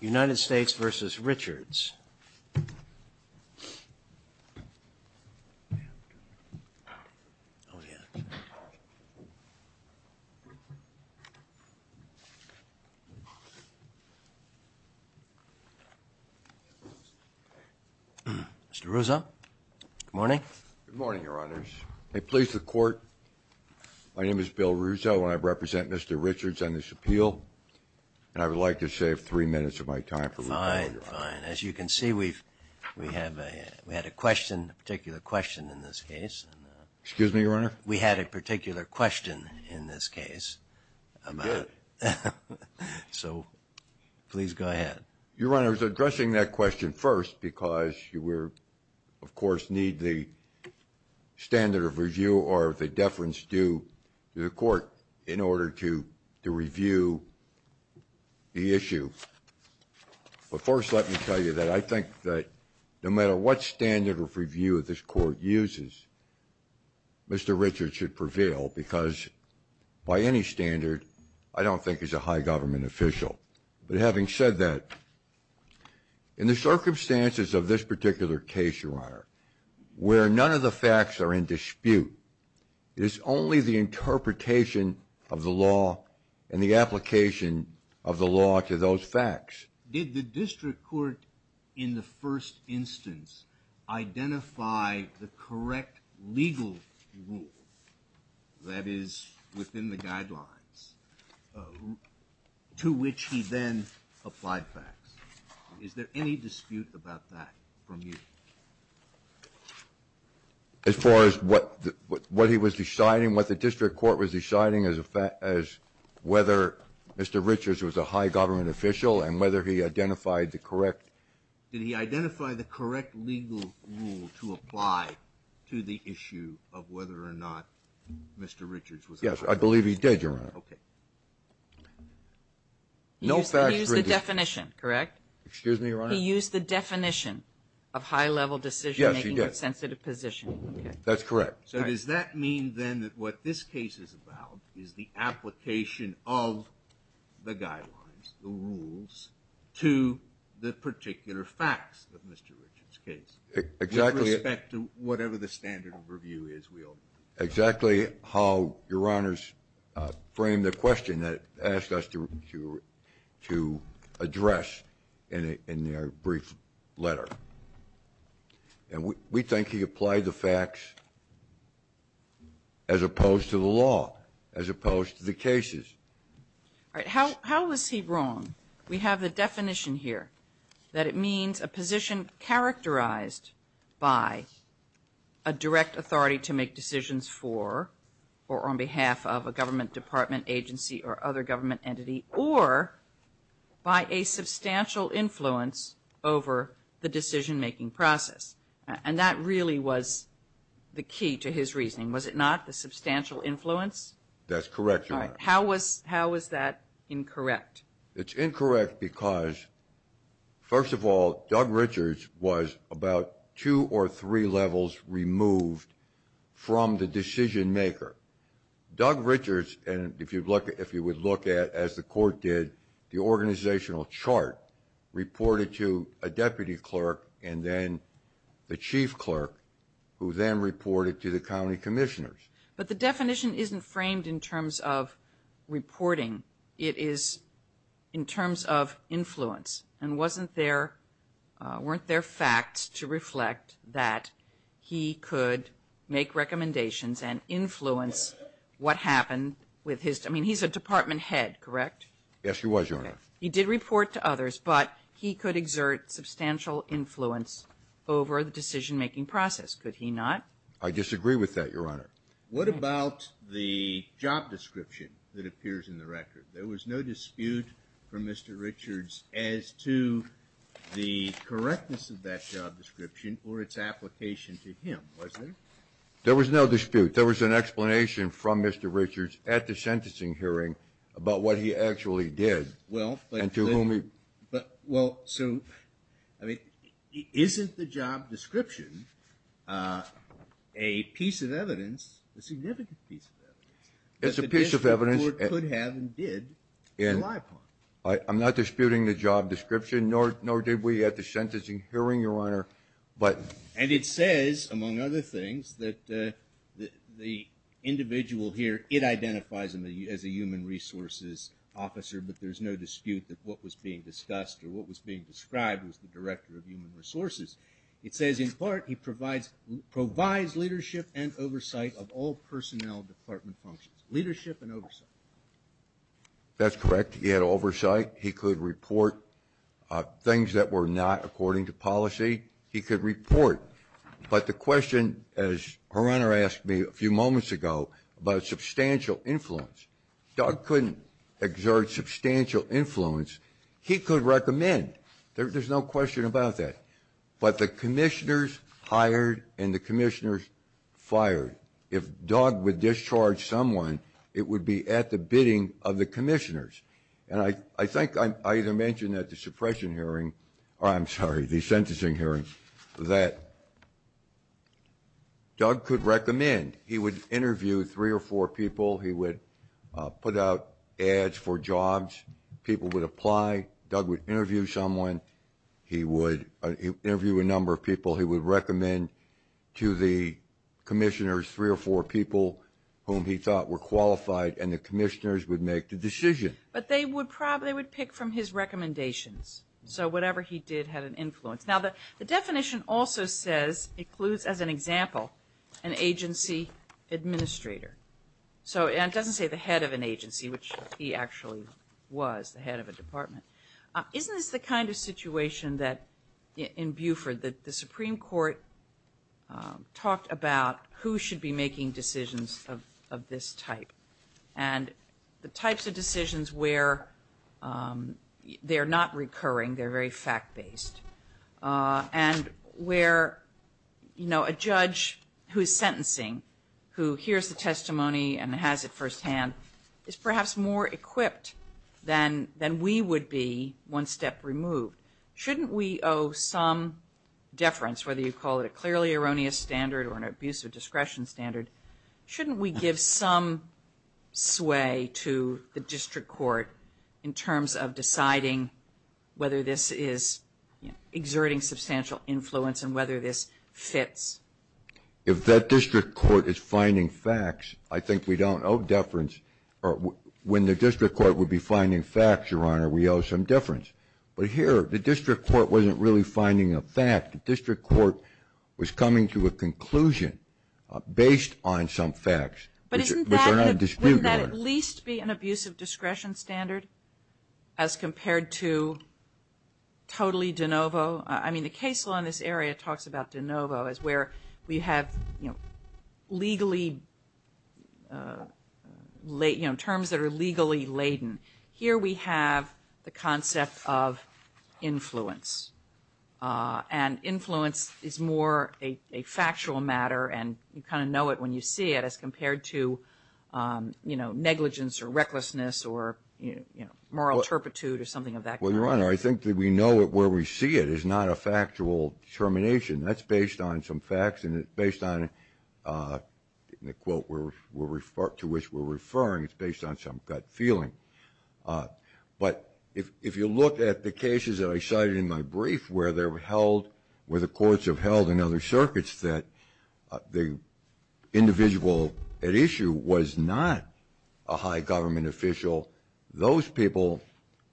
United States v. Richards Mr. Ruzzo, good morning. Good morning, Your Honors. May it please the Court, my name is Bill Ruzzo and I represent Mr. Richards on this appeal. And I would like to save three minutes of my time. Fine, fine. As you can see, we had a question, a particular question in this case. Excuse me, Your Honor? We had a particular question in this case. You did. So, please go ahead. Your Honor, I was addressing that question first because we, of course, need the standard of review or the deference due to the Court in order to review the issue. But first let me tell you that I think that no matter what standard of review this Court uses, Mr. Richards should prevail because by any standard, I don't think he's a high government official. But having said that, in the circumstances of this particular case, Your Honor, where none of the facts are in dispute, it is only the interpretation of the law and the application of the law to those facts. Did the district court in the first instance identify the correct legal rule that is within the guidelines to which he then applied facts? Is there any dispute about that from you? As far as what he was deciding, what the district court was deciding as a fact, as whether Mr. Richards was a high government official and whether he identified the correct. Did he identify the correct legal rule to apply to the issue of whether or not Mr. Richards was a high government official? Yes, I believe he did, Your Honor. Okay. He used the definition, correct? Excuse me, Your Honor? He used the definition of high-level decision-making with sensitive positioning. Yes, he did. That's correct. So does that mean then that what this case is about is the application of the guidelines, the rules, to the particular facts of Mr. Richards' case? Exactly. With respect to whatever the standard of review is, we all agree. Exactly how Your Honors framed the question that asked us to address in their brief letter. And we think he applied the facts as opposed to the law, as opposed to the cases. All right. How is he wrong? We have the definition here that it means a position characterized by a direct authority to make decisions for or on behalf of a government department, agency, or other government entity, or by a substantial influence over the decision-making process. And that really was the key to his reasoning. Was it not, the substantial influence? That's correct, Your Honor. All right. How was that incorrect? It's incorrect because, first of all, Doug Richards was about two or three levels removed from the decision-maker. Doug Richards, and if you would look at, as the Court did, the organizational chart reported to a deputy clerk and then the chief clerk, who then reported to the county commissioners. But the definition isn't framed in terms of reporting. It is in terms of influence. And wasn't there, weren't there facts to reflect that he could make recommendations and influence what happened with his, I mean, he's a department head, correct? Yes, he was, Your Honor. He did report to others, but he could exert substantial influence over the decision-making process. Could he not? I disagree with that, Your Honor. What about the job description that appears in the record? There was no dispute from Mr. Richards as to the correctness of that job description or its application to him, was there? There was no dispute. There was an explanation from Mr. Richards at the sentencing hearing about what he actually did and to whom he. Well, so, I mean, isn't the job description a piece of evidence, a significant piece of evidence? It's a piece of evidence. That the district court could have and did rely upon. I'm not disputing the job description, nor did we at the sentencing hearing, Your Honor. And it says, among other things, that the individual here, it identifies him as a human resources officer, but there's no dispute that what was being discussed or what was being described was the director of human resources. It says, in part, he provides leadership and oversight of all personnel department functions. Leadership and oversight. That's correct. He had oversight. He could report things that were not according to policy. He could report. But the question, as Her Honor asked me a few moments ago about substantial influence, Doug couldn't exert substantial influence. He could recommend. There's no question about that. But the commissioners hired and the commissioners fired. If Doug would discharge someone, it would be at the bidding of the commissioners. And I think I either mentioned at the suppression hearing, or I'm sorry, the sentencing hearing, that Doug could recommend. He would interview three or four people. He would put out ads for jobs. People would apply. Doug would interview someone. He would interview a number of people. He would recommend to the commissioners three or four people whom he thought were qualified, and the commissioners would make the decision. But they would pick from his recommendations. So whatever he did had an influence. Now, the definition also says, includes as an example, an agency administrator. So it doesn't say the head of an agency, which he actually was, the head of a department. Isn't this the kind of situation that, in Buford, the Supreme Court talked about who should be making decisions of this type? And the types of decisions where they're not recurring, they're very fact-based. And where, you know, a judge who is sentencing, who hears the testimony and has it firsthand, is perhaps more equipped than we would be one step removed. Shouldn't we owe some deference, whether you call it a clearly erroneous standard or an abuse of discretion standard? Shouldn't we give some sway to the district court in terms of deciding whether this is exerting substantial influence and whether this fits? If that district court is finding facts, I think we don't owe deference. When the district court would be finding facts, Your Honor, we owe some deference. But here, the district court wasn't really finding a fact. The district court was coming to a conclusion based on some facts, which are not disputed. But wouldn't that at least be an abuse of discretion standard as compared to totally de novo? I mean, the case law in this area talks about de novo as where we have, you know, legally, you know, terms that are legally laden. Here we have the concept of influence. And influence is more a factual matter and you kind of know it when you see it as compared to, you know, negligence or recklessness or, you know, moral turpitude or something of that kind. Well, Your Honor, I think that we know it where we see it is not a factual determination. That's based on some facts and it's based on, in the quote to which we're referring, it's based on some gut feeling. But if you look at the cases that I cited in my brief where they were held, where the courts have held in other circuits that the individual at issue was not a high government official, those people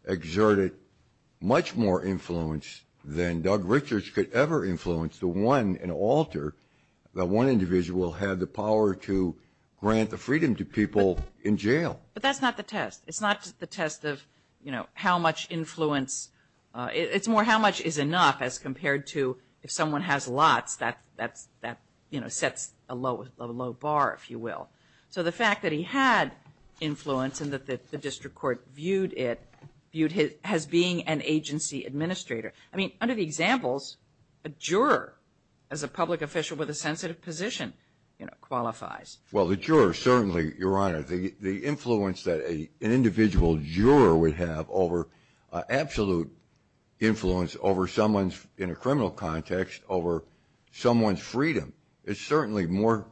exerted much more influence than Doug Richards could ever influence the one, an alter, that one individual had the power to grant the freedom to people in jail. But that's not the test. It's not the test of, you know, how much influence. It's more how much is enough as compared to if someone has lots, that, you know, sets a low bar, if you will. So the fact that he had influence and that the district court viewed it as being an agency administrator. I mean, under the examples, a juror as a public official with a sensitive position, you know, qualifies. Well, the juror certainly, Your Honor. The influence that an individual juror would have over absolute influence over someone's, in a criminal context, over someone's freedom is certainly more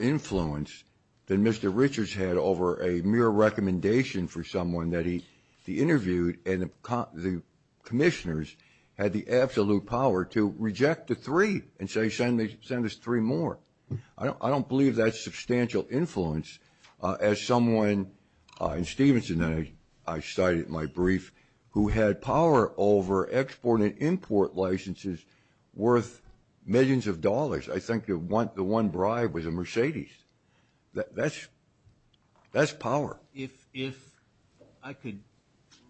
influence than Mr. Richards had over a mere recommendation for someone that he interviewed and the commissioners had the absolute power to reject the three and say send us three more. I don't believe that's substantial influence as someone in Stevenson, I cited in my brief, who had power over export and import licenses worth millions of dollars. I think the one bribe was a Mercedes. That's power. If I could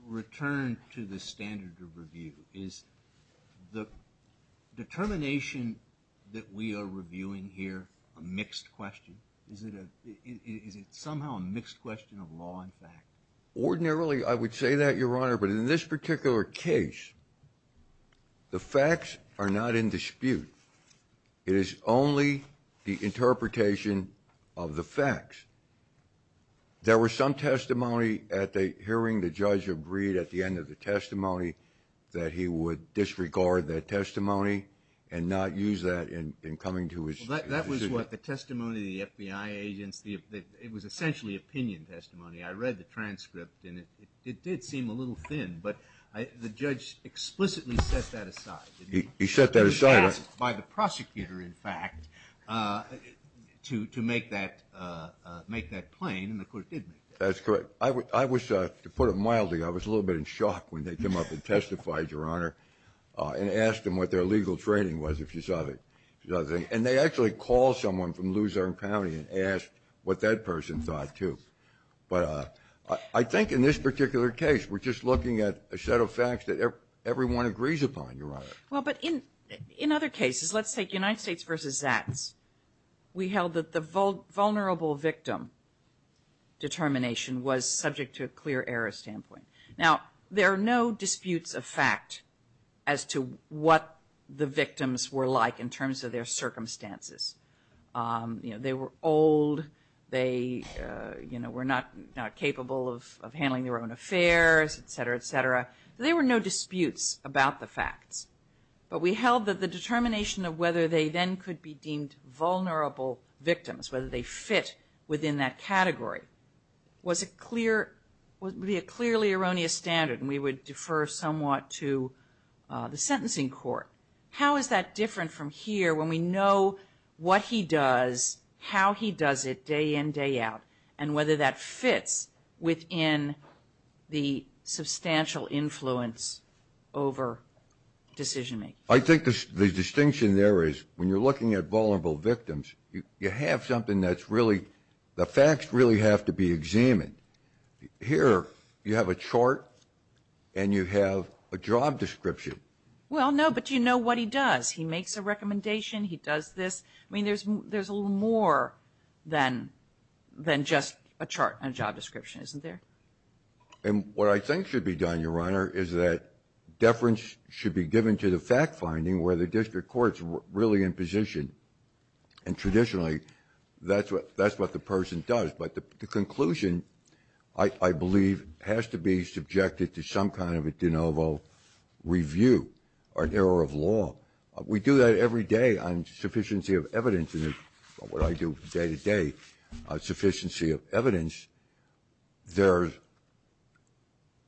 return to the standard of review, is the determination that we are reviewing here a mixed question? Is it somehow a mixed question of law and fact? Ordinarily, I would say that, Your Honor, but in this particular case, the facts are not in dispute. It is only the interpretation of the facts. There was some testimony at the hearing, the judge agreed at the end of the testimony that he would disregard that testimony and not use that in coming to his decision. That was what the testimony of the FBI agents, it was essentially opinion testimony. I read the transcript and it did seem a little thin, but the judge explicitly set that aside. He set that aside. He was asked by the prosecutor, in fact, to make that plain, and the court did make that plain. That's correct. I was, to put it mildly, I was a little bit in shock when they came up and testified, Your Honor, and asked them what their legal training was, if you saw the thing. And they actually called someone from Luzerne County and asked what that person thought, too. But I think in this particular case, we're just looking at a set of facts that everyone agrees upon, Your Honor. Well, but in other cases, let's take United States versus Zats. We held that the vulnerable victim determination was subject to a clear error standpoint. Now, there are no disputes of fact as to what the victims were like in terms of their circumstances. They were old, they were not capable of handling their own affairs, et cetera, et cetera. There were no disputes about the facts. But we held that the determination of whether they then could be deemed vulnerable victims, whether they fit within that category, was a clear, would be a clearly erroneous standard, and we would defer somewhat to the sentencing court. How is that different from here when we know what he does, how he does it day in, day out, and whether that fits within the substantial influence over decision-making? I think the distinction there is when you're looking at vulnerable victims, you have something that's really, the facts really have to be examined. Here, you have a chart and you have a job description. Well, no, but you know what he does. He makes a recommendation, he does this. I mean, there's a little more than just a chart and a job description, isn't there? And what I think should be done, Your Honor, is that deference should be given to the fact-finding where the district court's really in position. And traditionally, that's what the person does. But the conclusion, I believe, has to be subjected to some kind of a de novo review or error of law. We do that every day on sufficiency of evidence, what I do day to day, sufficiency of evidence. There's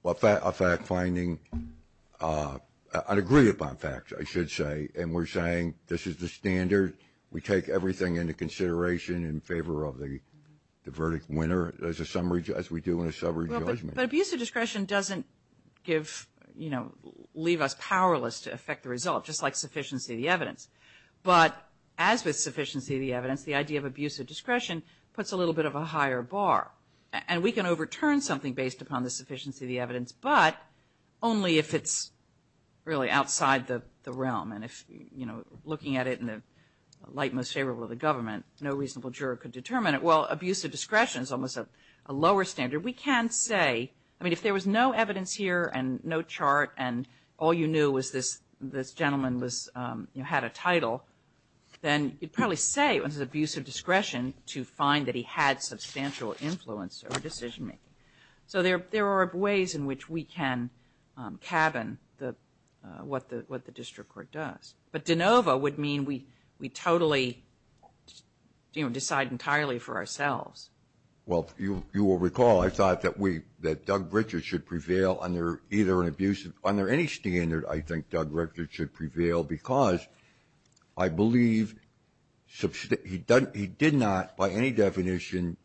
a fact-finding, an agree-upon fact, I should say, and we're saying this is the standard. We take everything into consideration in favor of the verdict winner as we do in a summary judgment. But abuse of discretion doesn't give, you know, leave us powerless to affect the result, just like sufficiency of the evidence. But as with sufficiency of the evidence, the idea of abuse of discretion puts a little bit of a higher bar. And we can overturn something based upon the sufficiency of the evidence, but only if it's really outside the realm. And if, you know, looking at it in the light most favorable of the government, no reasonable juror could determine it. So while abuse of discretion is almost a lower standard, we can say, I mean, if there was no evidence here and no chart and all you knew was this gentleman had a title, then you'd probably say it was abuse of discretion to find that he had substantial influence over decision-making. So there are ways in which we can cabin what the district court does. But de novo would mean we totally, you know, decide entirely for ourselves. Well, you will recall I thought that we, that Doug Richards should prevail under either an abusive, under any standard I think Doug Richards should prevail because I believe he did not, by any definition,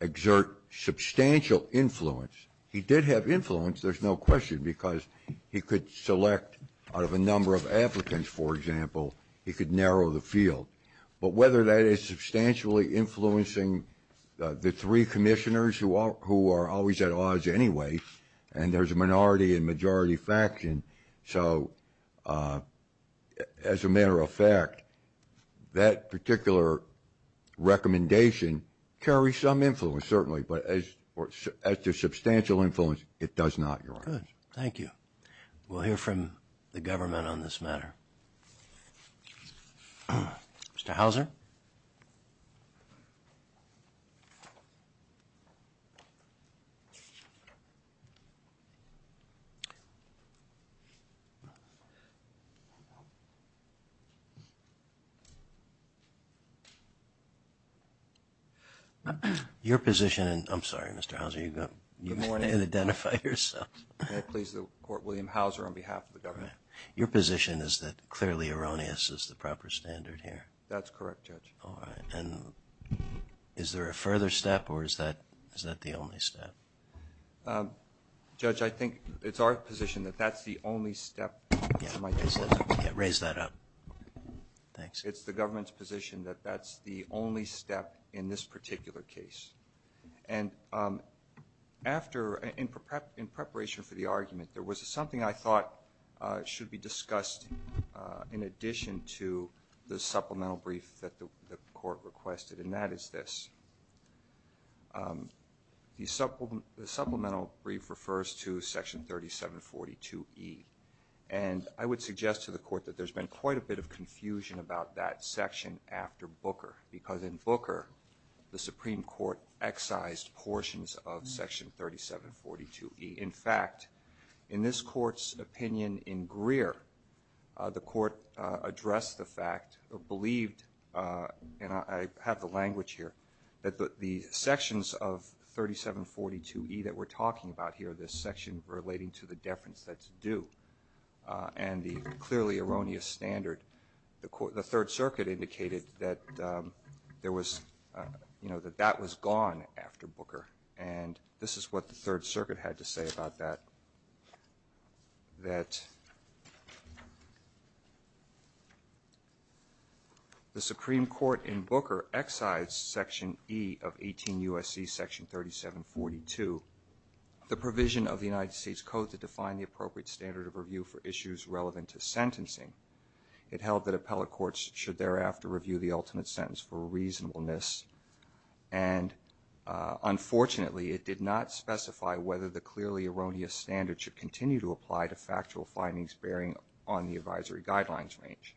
exert substantial influence. He did have influence, there's no question, because he could select out of a number of applicants, for example, he could narrow the field. But whether that is substantially influencing the three commissioners who are always at odds anyway, and there's a minority and majority faction, so as a matter of fact, that particular recommendation carries some influence certainly, but as to substantial influence, it does not, Your Honor. Good. Thank you. We'll hear from the government on this matter. Mr. Hauser? Your position, I'm sorry, Mr. Hauser, you've got to identify yourself. May it please the Court, William Hauser on behalf of the government. Your position is that clearly erroneous is the proper standard here? That's correct, Judge. All right. And is there a further step or is that the only step? Judge, I think it's our position that that's the only step. Raise that up. Thanks. It's the government's position that that's the only step in this particular case. And after, in preparation for the argument, there was something I thought should be discussed in addition to the supplemental brief that the Court requested, and that is this. The supplemental brief refers to Section 3742E. And I would suggest to the Court that there's been quite a bit of confusion about that section after Booker, because in Booker the Supreme Court excised portions of Section 3742E. In fact, in this Court's opinion in Greer, the Court addressed the fact or believed, and I have the language here, that the sections of 3742E that we're talking about here, this section relating to the deference that's due and the clearly erroneous standard, the Third Circuit indicated that that was gone after Booker. And this is what the Third Circuit had to say about that, that the Supreme Court in Booker excised Section E of 18 U.S.C. Section 3742, the provision of the United States Code to define the appropriate standard of review for issues relevant to sentencing. It held that appellate courts should thereafter review the ultimate sentence for reasonableness, and unfortunately it did not specify whether the clearly erroneous standard should continue to apply to factual findings bearing on the advisory guidelines range.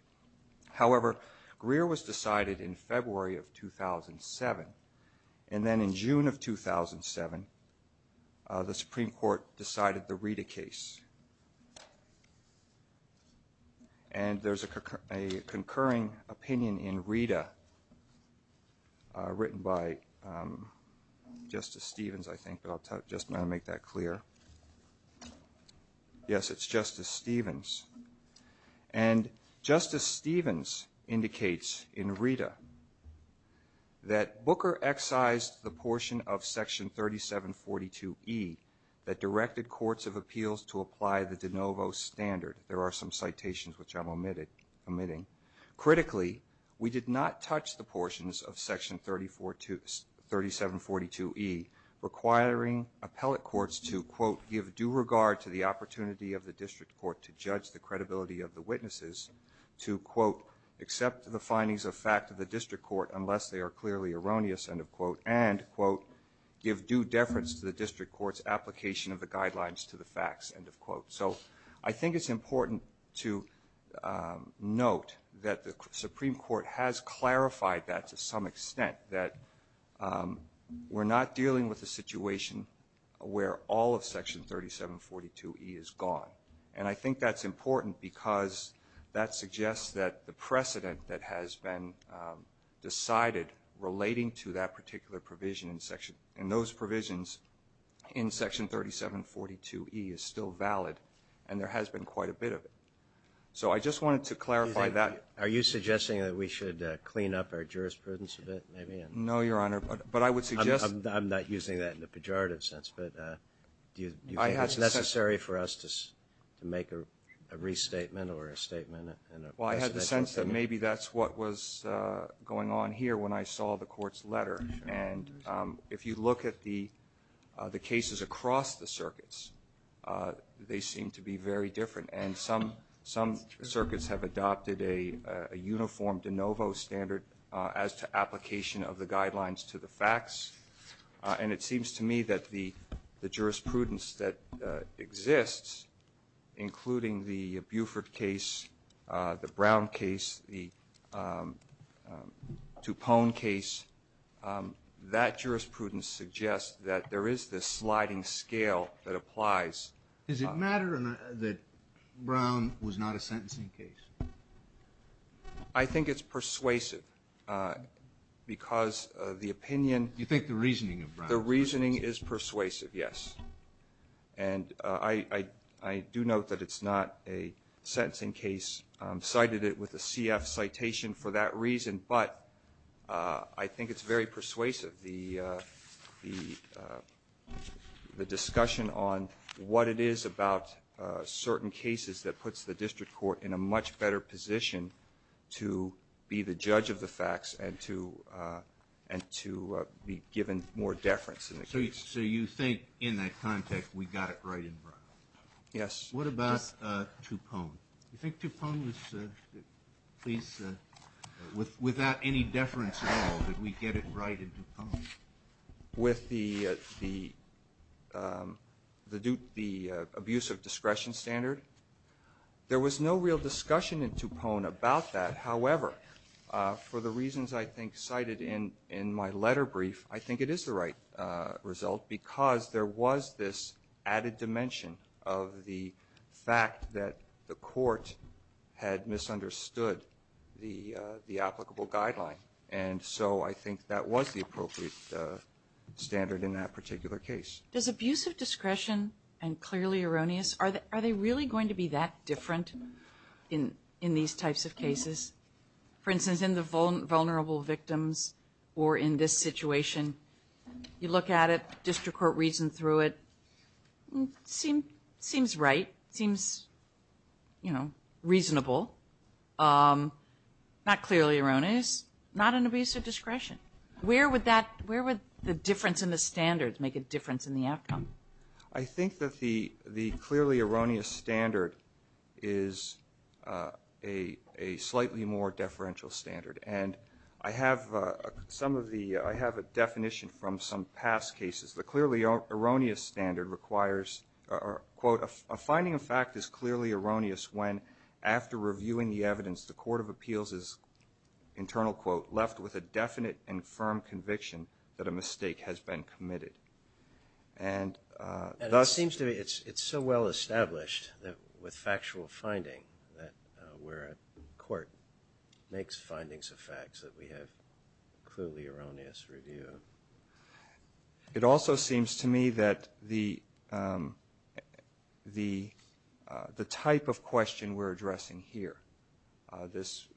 However, Greer was decided in February of 2007, and then in June of 2007, the Supreme Court decided the Rita case. And there's a concurring opinion in Rita written by Justice Stevens, I think, but I'll just make that clear. Yes, it's Justice Stevens. And Justice Stevens indicates in Rita that Booker excised the portion of Section 3742E, that directed courts of appeals to apply the de novo standard. There are some citations which I'm omitting. Critically, we did not touch the portions of Section 3742E, requiring appellate courts to, quote, give due regard to the opportunity of the district court to judge the credibility of the witnesses, application of the guidelines to the facts, end of quote. So I think it's important to note that the Supreme Court has clarified that to some extent, that we're not dealing with a situation where all of Section 3742E is gone. And I think that's important because that suggests that the precedent that has been decided relating to that particular provision in those provisions in Section 3742E is still valid, and there has been quite a bit of it. So I just wanted to clarify that. Are you suggesting that we should clean up our jurisprudence a bit, maybe? No, Your Honor, but I would suggest that. I'm not using that in a pejorative sense, but do you think it's necessary for us to make a restatement or a statement? Well, I had the sense that maybe that's what was going on here when I saw the Court's letter. And if you look at the cases across the circuits, they seem to be very different. And some circuits have adopted a uniform de novo standard as to application of the guidelines to the facts. And it seems to me that the jurisprudence that exists, including the Buford case, the Brown case, the Toupon case, that jurisprudence suggests that there is this sliding scale that applies. Does it matter that Brown was not a sentencing case? I think it's persuasive, because the opinion — You think the reasoning of Brown is persuasive? The reasoning is persuasive, yes. And I do note that it's not a sentencing case. I cited it with a CF citation for that reason, but I think it's very persuasive. The discussion on what it is about certain cases that puts the District Court in a much better position to be the judge of the facts and to be given more deference in the case. So you think, in that context, we got it right in Brown? Yes. What about Toupon? Do you think Toupon was, please, without any deference at all, did we get it right in Toupon? With the abuse of discretion standard? There was no real discussion in Toupon about that. However, for the reasons I think cited in my letter brief, I think it is the right result, because there was this added dimension of the fact that the Court had misunderstood the applicable guideline. And so I think that was the appropriate standard in that particular case. Does abuse of discretion and clearly erroneous, are they really going to be that different in these types of cases? For instance, in the vulnerable victims or in this situation, you look at it, District Court reasoned through it. So, not clearly erroneous, not an abuse of discretion. Where would the difference in the standards make a difference in the outcome? I think that the clearly erroneous standard is a slightly more deferential standard. And I have a definition from some past cases. The clearly erroneous standard requires, quote, a finding of fact is clearly erroneous when, after reviewing the evidence, the Court of Appeals is, internal quote, left with a definite and firm conviction that a mistake has been committed. And it seems to me it's so well established that with factual finding, that where a court makes findings of facts that we have clearly erroneous review of. It also seems to me that the type of question we're addressing here, this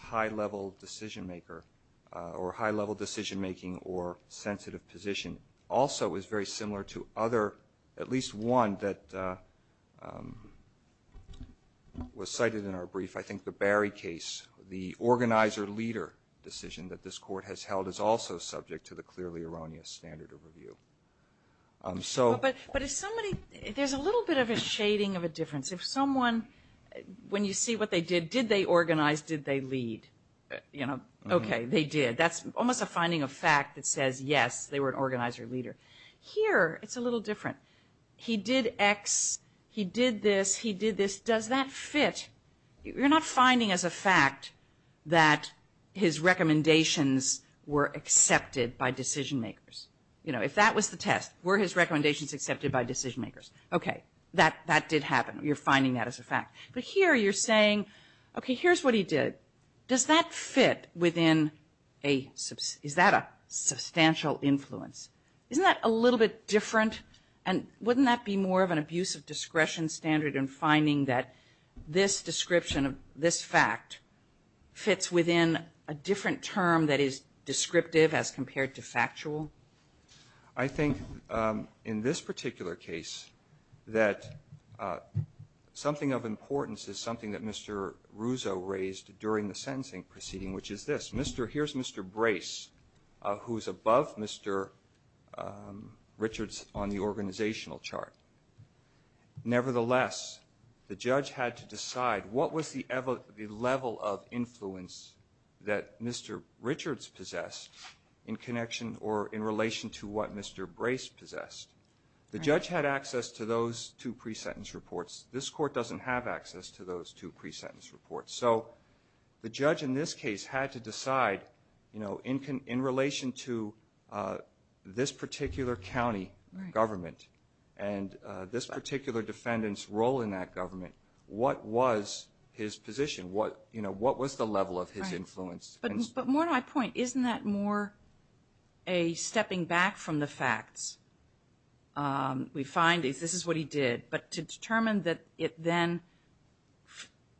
high-level decision-maker or high-level decision-making or sensitive position, also is very similar to other, at least one that, was cited in our brief. I think the Barry case, the organizer-leader decision that this court has held, is also subject to the clearly erroneous standard of review. There's a little bit of a shading of a difference. If someone, when you see what they did, did they organize, did they lead? Okay, they did. That's almost a finding of fact that says, yes, they were an organizer-leader. Here, it's a little different. He did X, he did this, he did this. Does that fit? You're not finding as a fact that his recommendations were accepted by decision-makers. You know, if that was the test, were his recommendations accepted by decision-makers? Okay, that did happen. You're finding that as a fact. But here you're saying, okay, here's what he did. Does that fit within a, is that a substantial influence? Isn't that a little bit different? And wouldn't that be more of an abuse of discretion standard in finding that this description of this fact fits within a different term that is descriptive as compared to factual? I think in this particular case, that something of importance is something that Mr. Ruzzo raised during the sentencing proceeding, which is this. Here's Mr. Brace, who is above Mr. Richards on the organizational chart. Nevertheless, the judge had to decide what was the level of influence that Mr. Richards possessed in connection or in relation to what Mr. Brace possessed. The judge had access to those two pre-sentence reports. This court doesn't have access to those two pre-sentence reports. So the judge in this case had to decide, you know, in relation to this particular county government and this particular defendant's role in that government, what was his position? What was the level of his influence? But more to my point, isn't that more a stepping back from the facts? We find this is what he did. But to determine that it then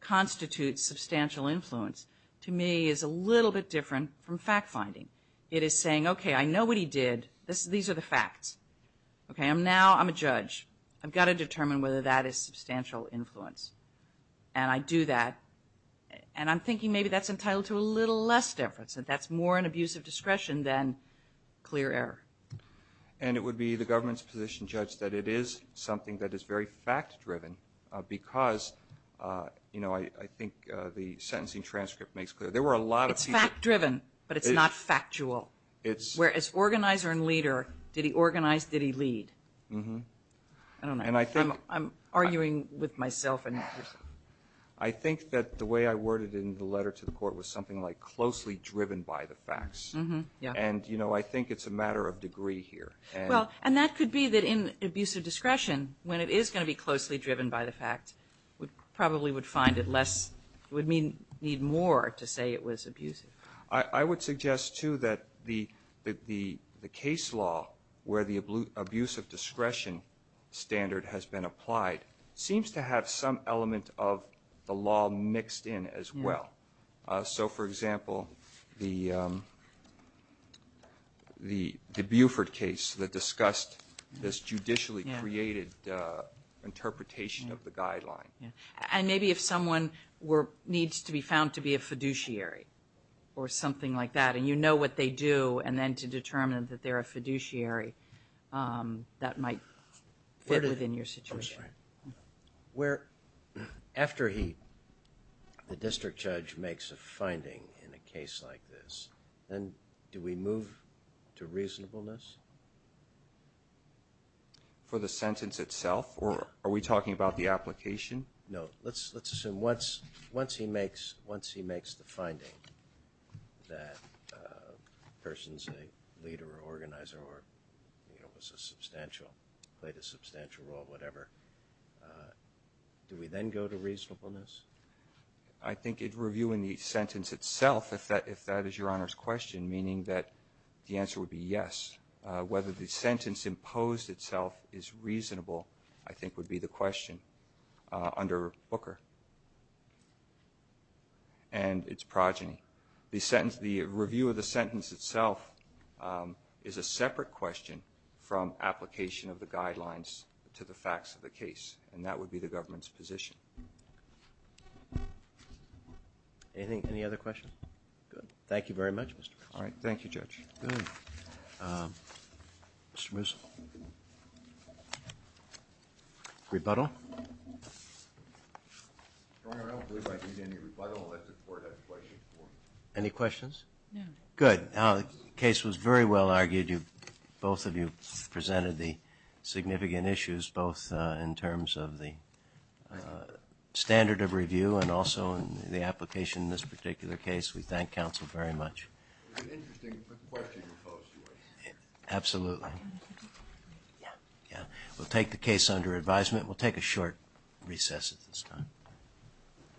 constitutes substantial influence, to me, is a little bit different from fact-finding. It is saying, okay, I know what he did. These are the facts. Okay, now I'm a judge. I've got to determine whether that is substantial influence. And I do that. And I'm thinking maybe that's entitled to a little less deference, that that's more an abuse of discretion than clear error. It's very fact-driven because, you know, I think the sentencing transcript makes clear there were a lot of people... It's fact-driven, but it's not factual. Where as organizer and leader, did he organize, did he lead? I don't know. I'm arguing with myself. I think that the way I worded it in the letter to the court was something like closely driven by the facts. And, you know, I think it's a matter of degree here. And that could be that in abuse of discretion, when it is going to be closely driven by the facts, we probably would find it less, we'd need more to say it was abusive. I would suggest, too, that the case law where the abuse of discretion standard has been applied seems to have some element of the law mixed in as well. So, for example, the Buford case that discussed this judicially created interpretation of the guideline. And maybe if someone needs to be found to be a fiduciary or something like that, and you know what they do, and then to determine that they're a fiduciary, that might fit within your situation. After the district judge makes a finding in a case like this, do we move to reasonableness? For the sentence itself? Or are we talking about the application? No. Let's assume once he makes the finding that the person's a leader or organizer or, you know, was a substantial, played a substantial role, whatever, do we then go to reasonableness? I think reviewing the sentence itself, if that is Your Honor's question, meaning that the answer would be yes. Whether the sentence imposed itself is reasonable, I think would be the question under Booker and its progeny. The review of the sentence itself is a separate question from application of the guidelines to the facts of the case, and that would be the government's position. Any other questions? Good. Thank you very much, Mr. Musil. All right. Thank you, Judge. Mr. Musil? Rebuttal? Your Honor, I don't believe I need any rebuttal unless the Court has questions for me. Any questions? Good. The case was very well argued. Both of you presented the significant issues, both in terms of the standard of review and also in the application in this particular case. We thank counsel very much. Absolutely. Yeah. We'll take the case under advisement. We'll take a short recess at this time.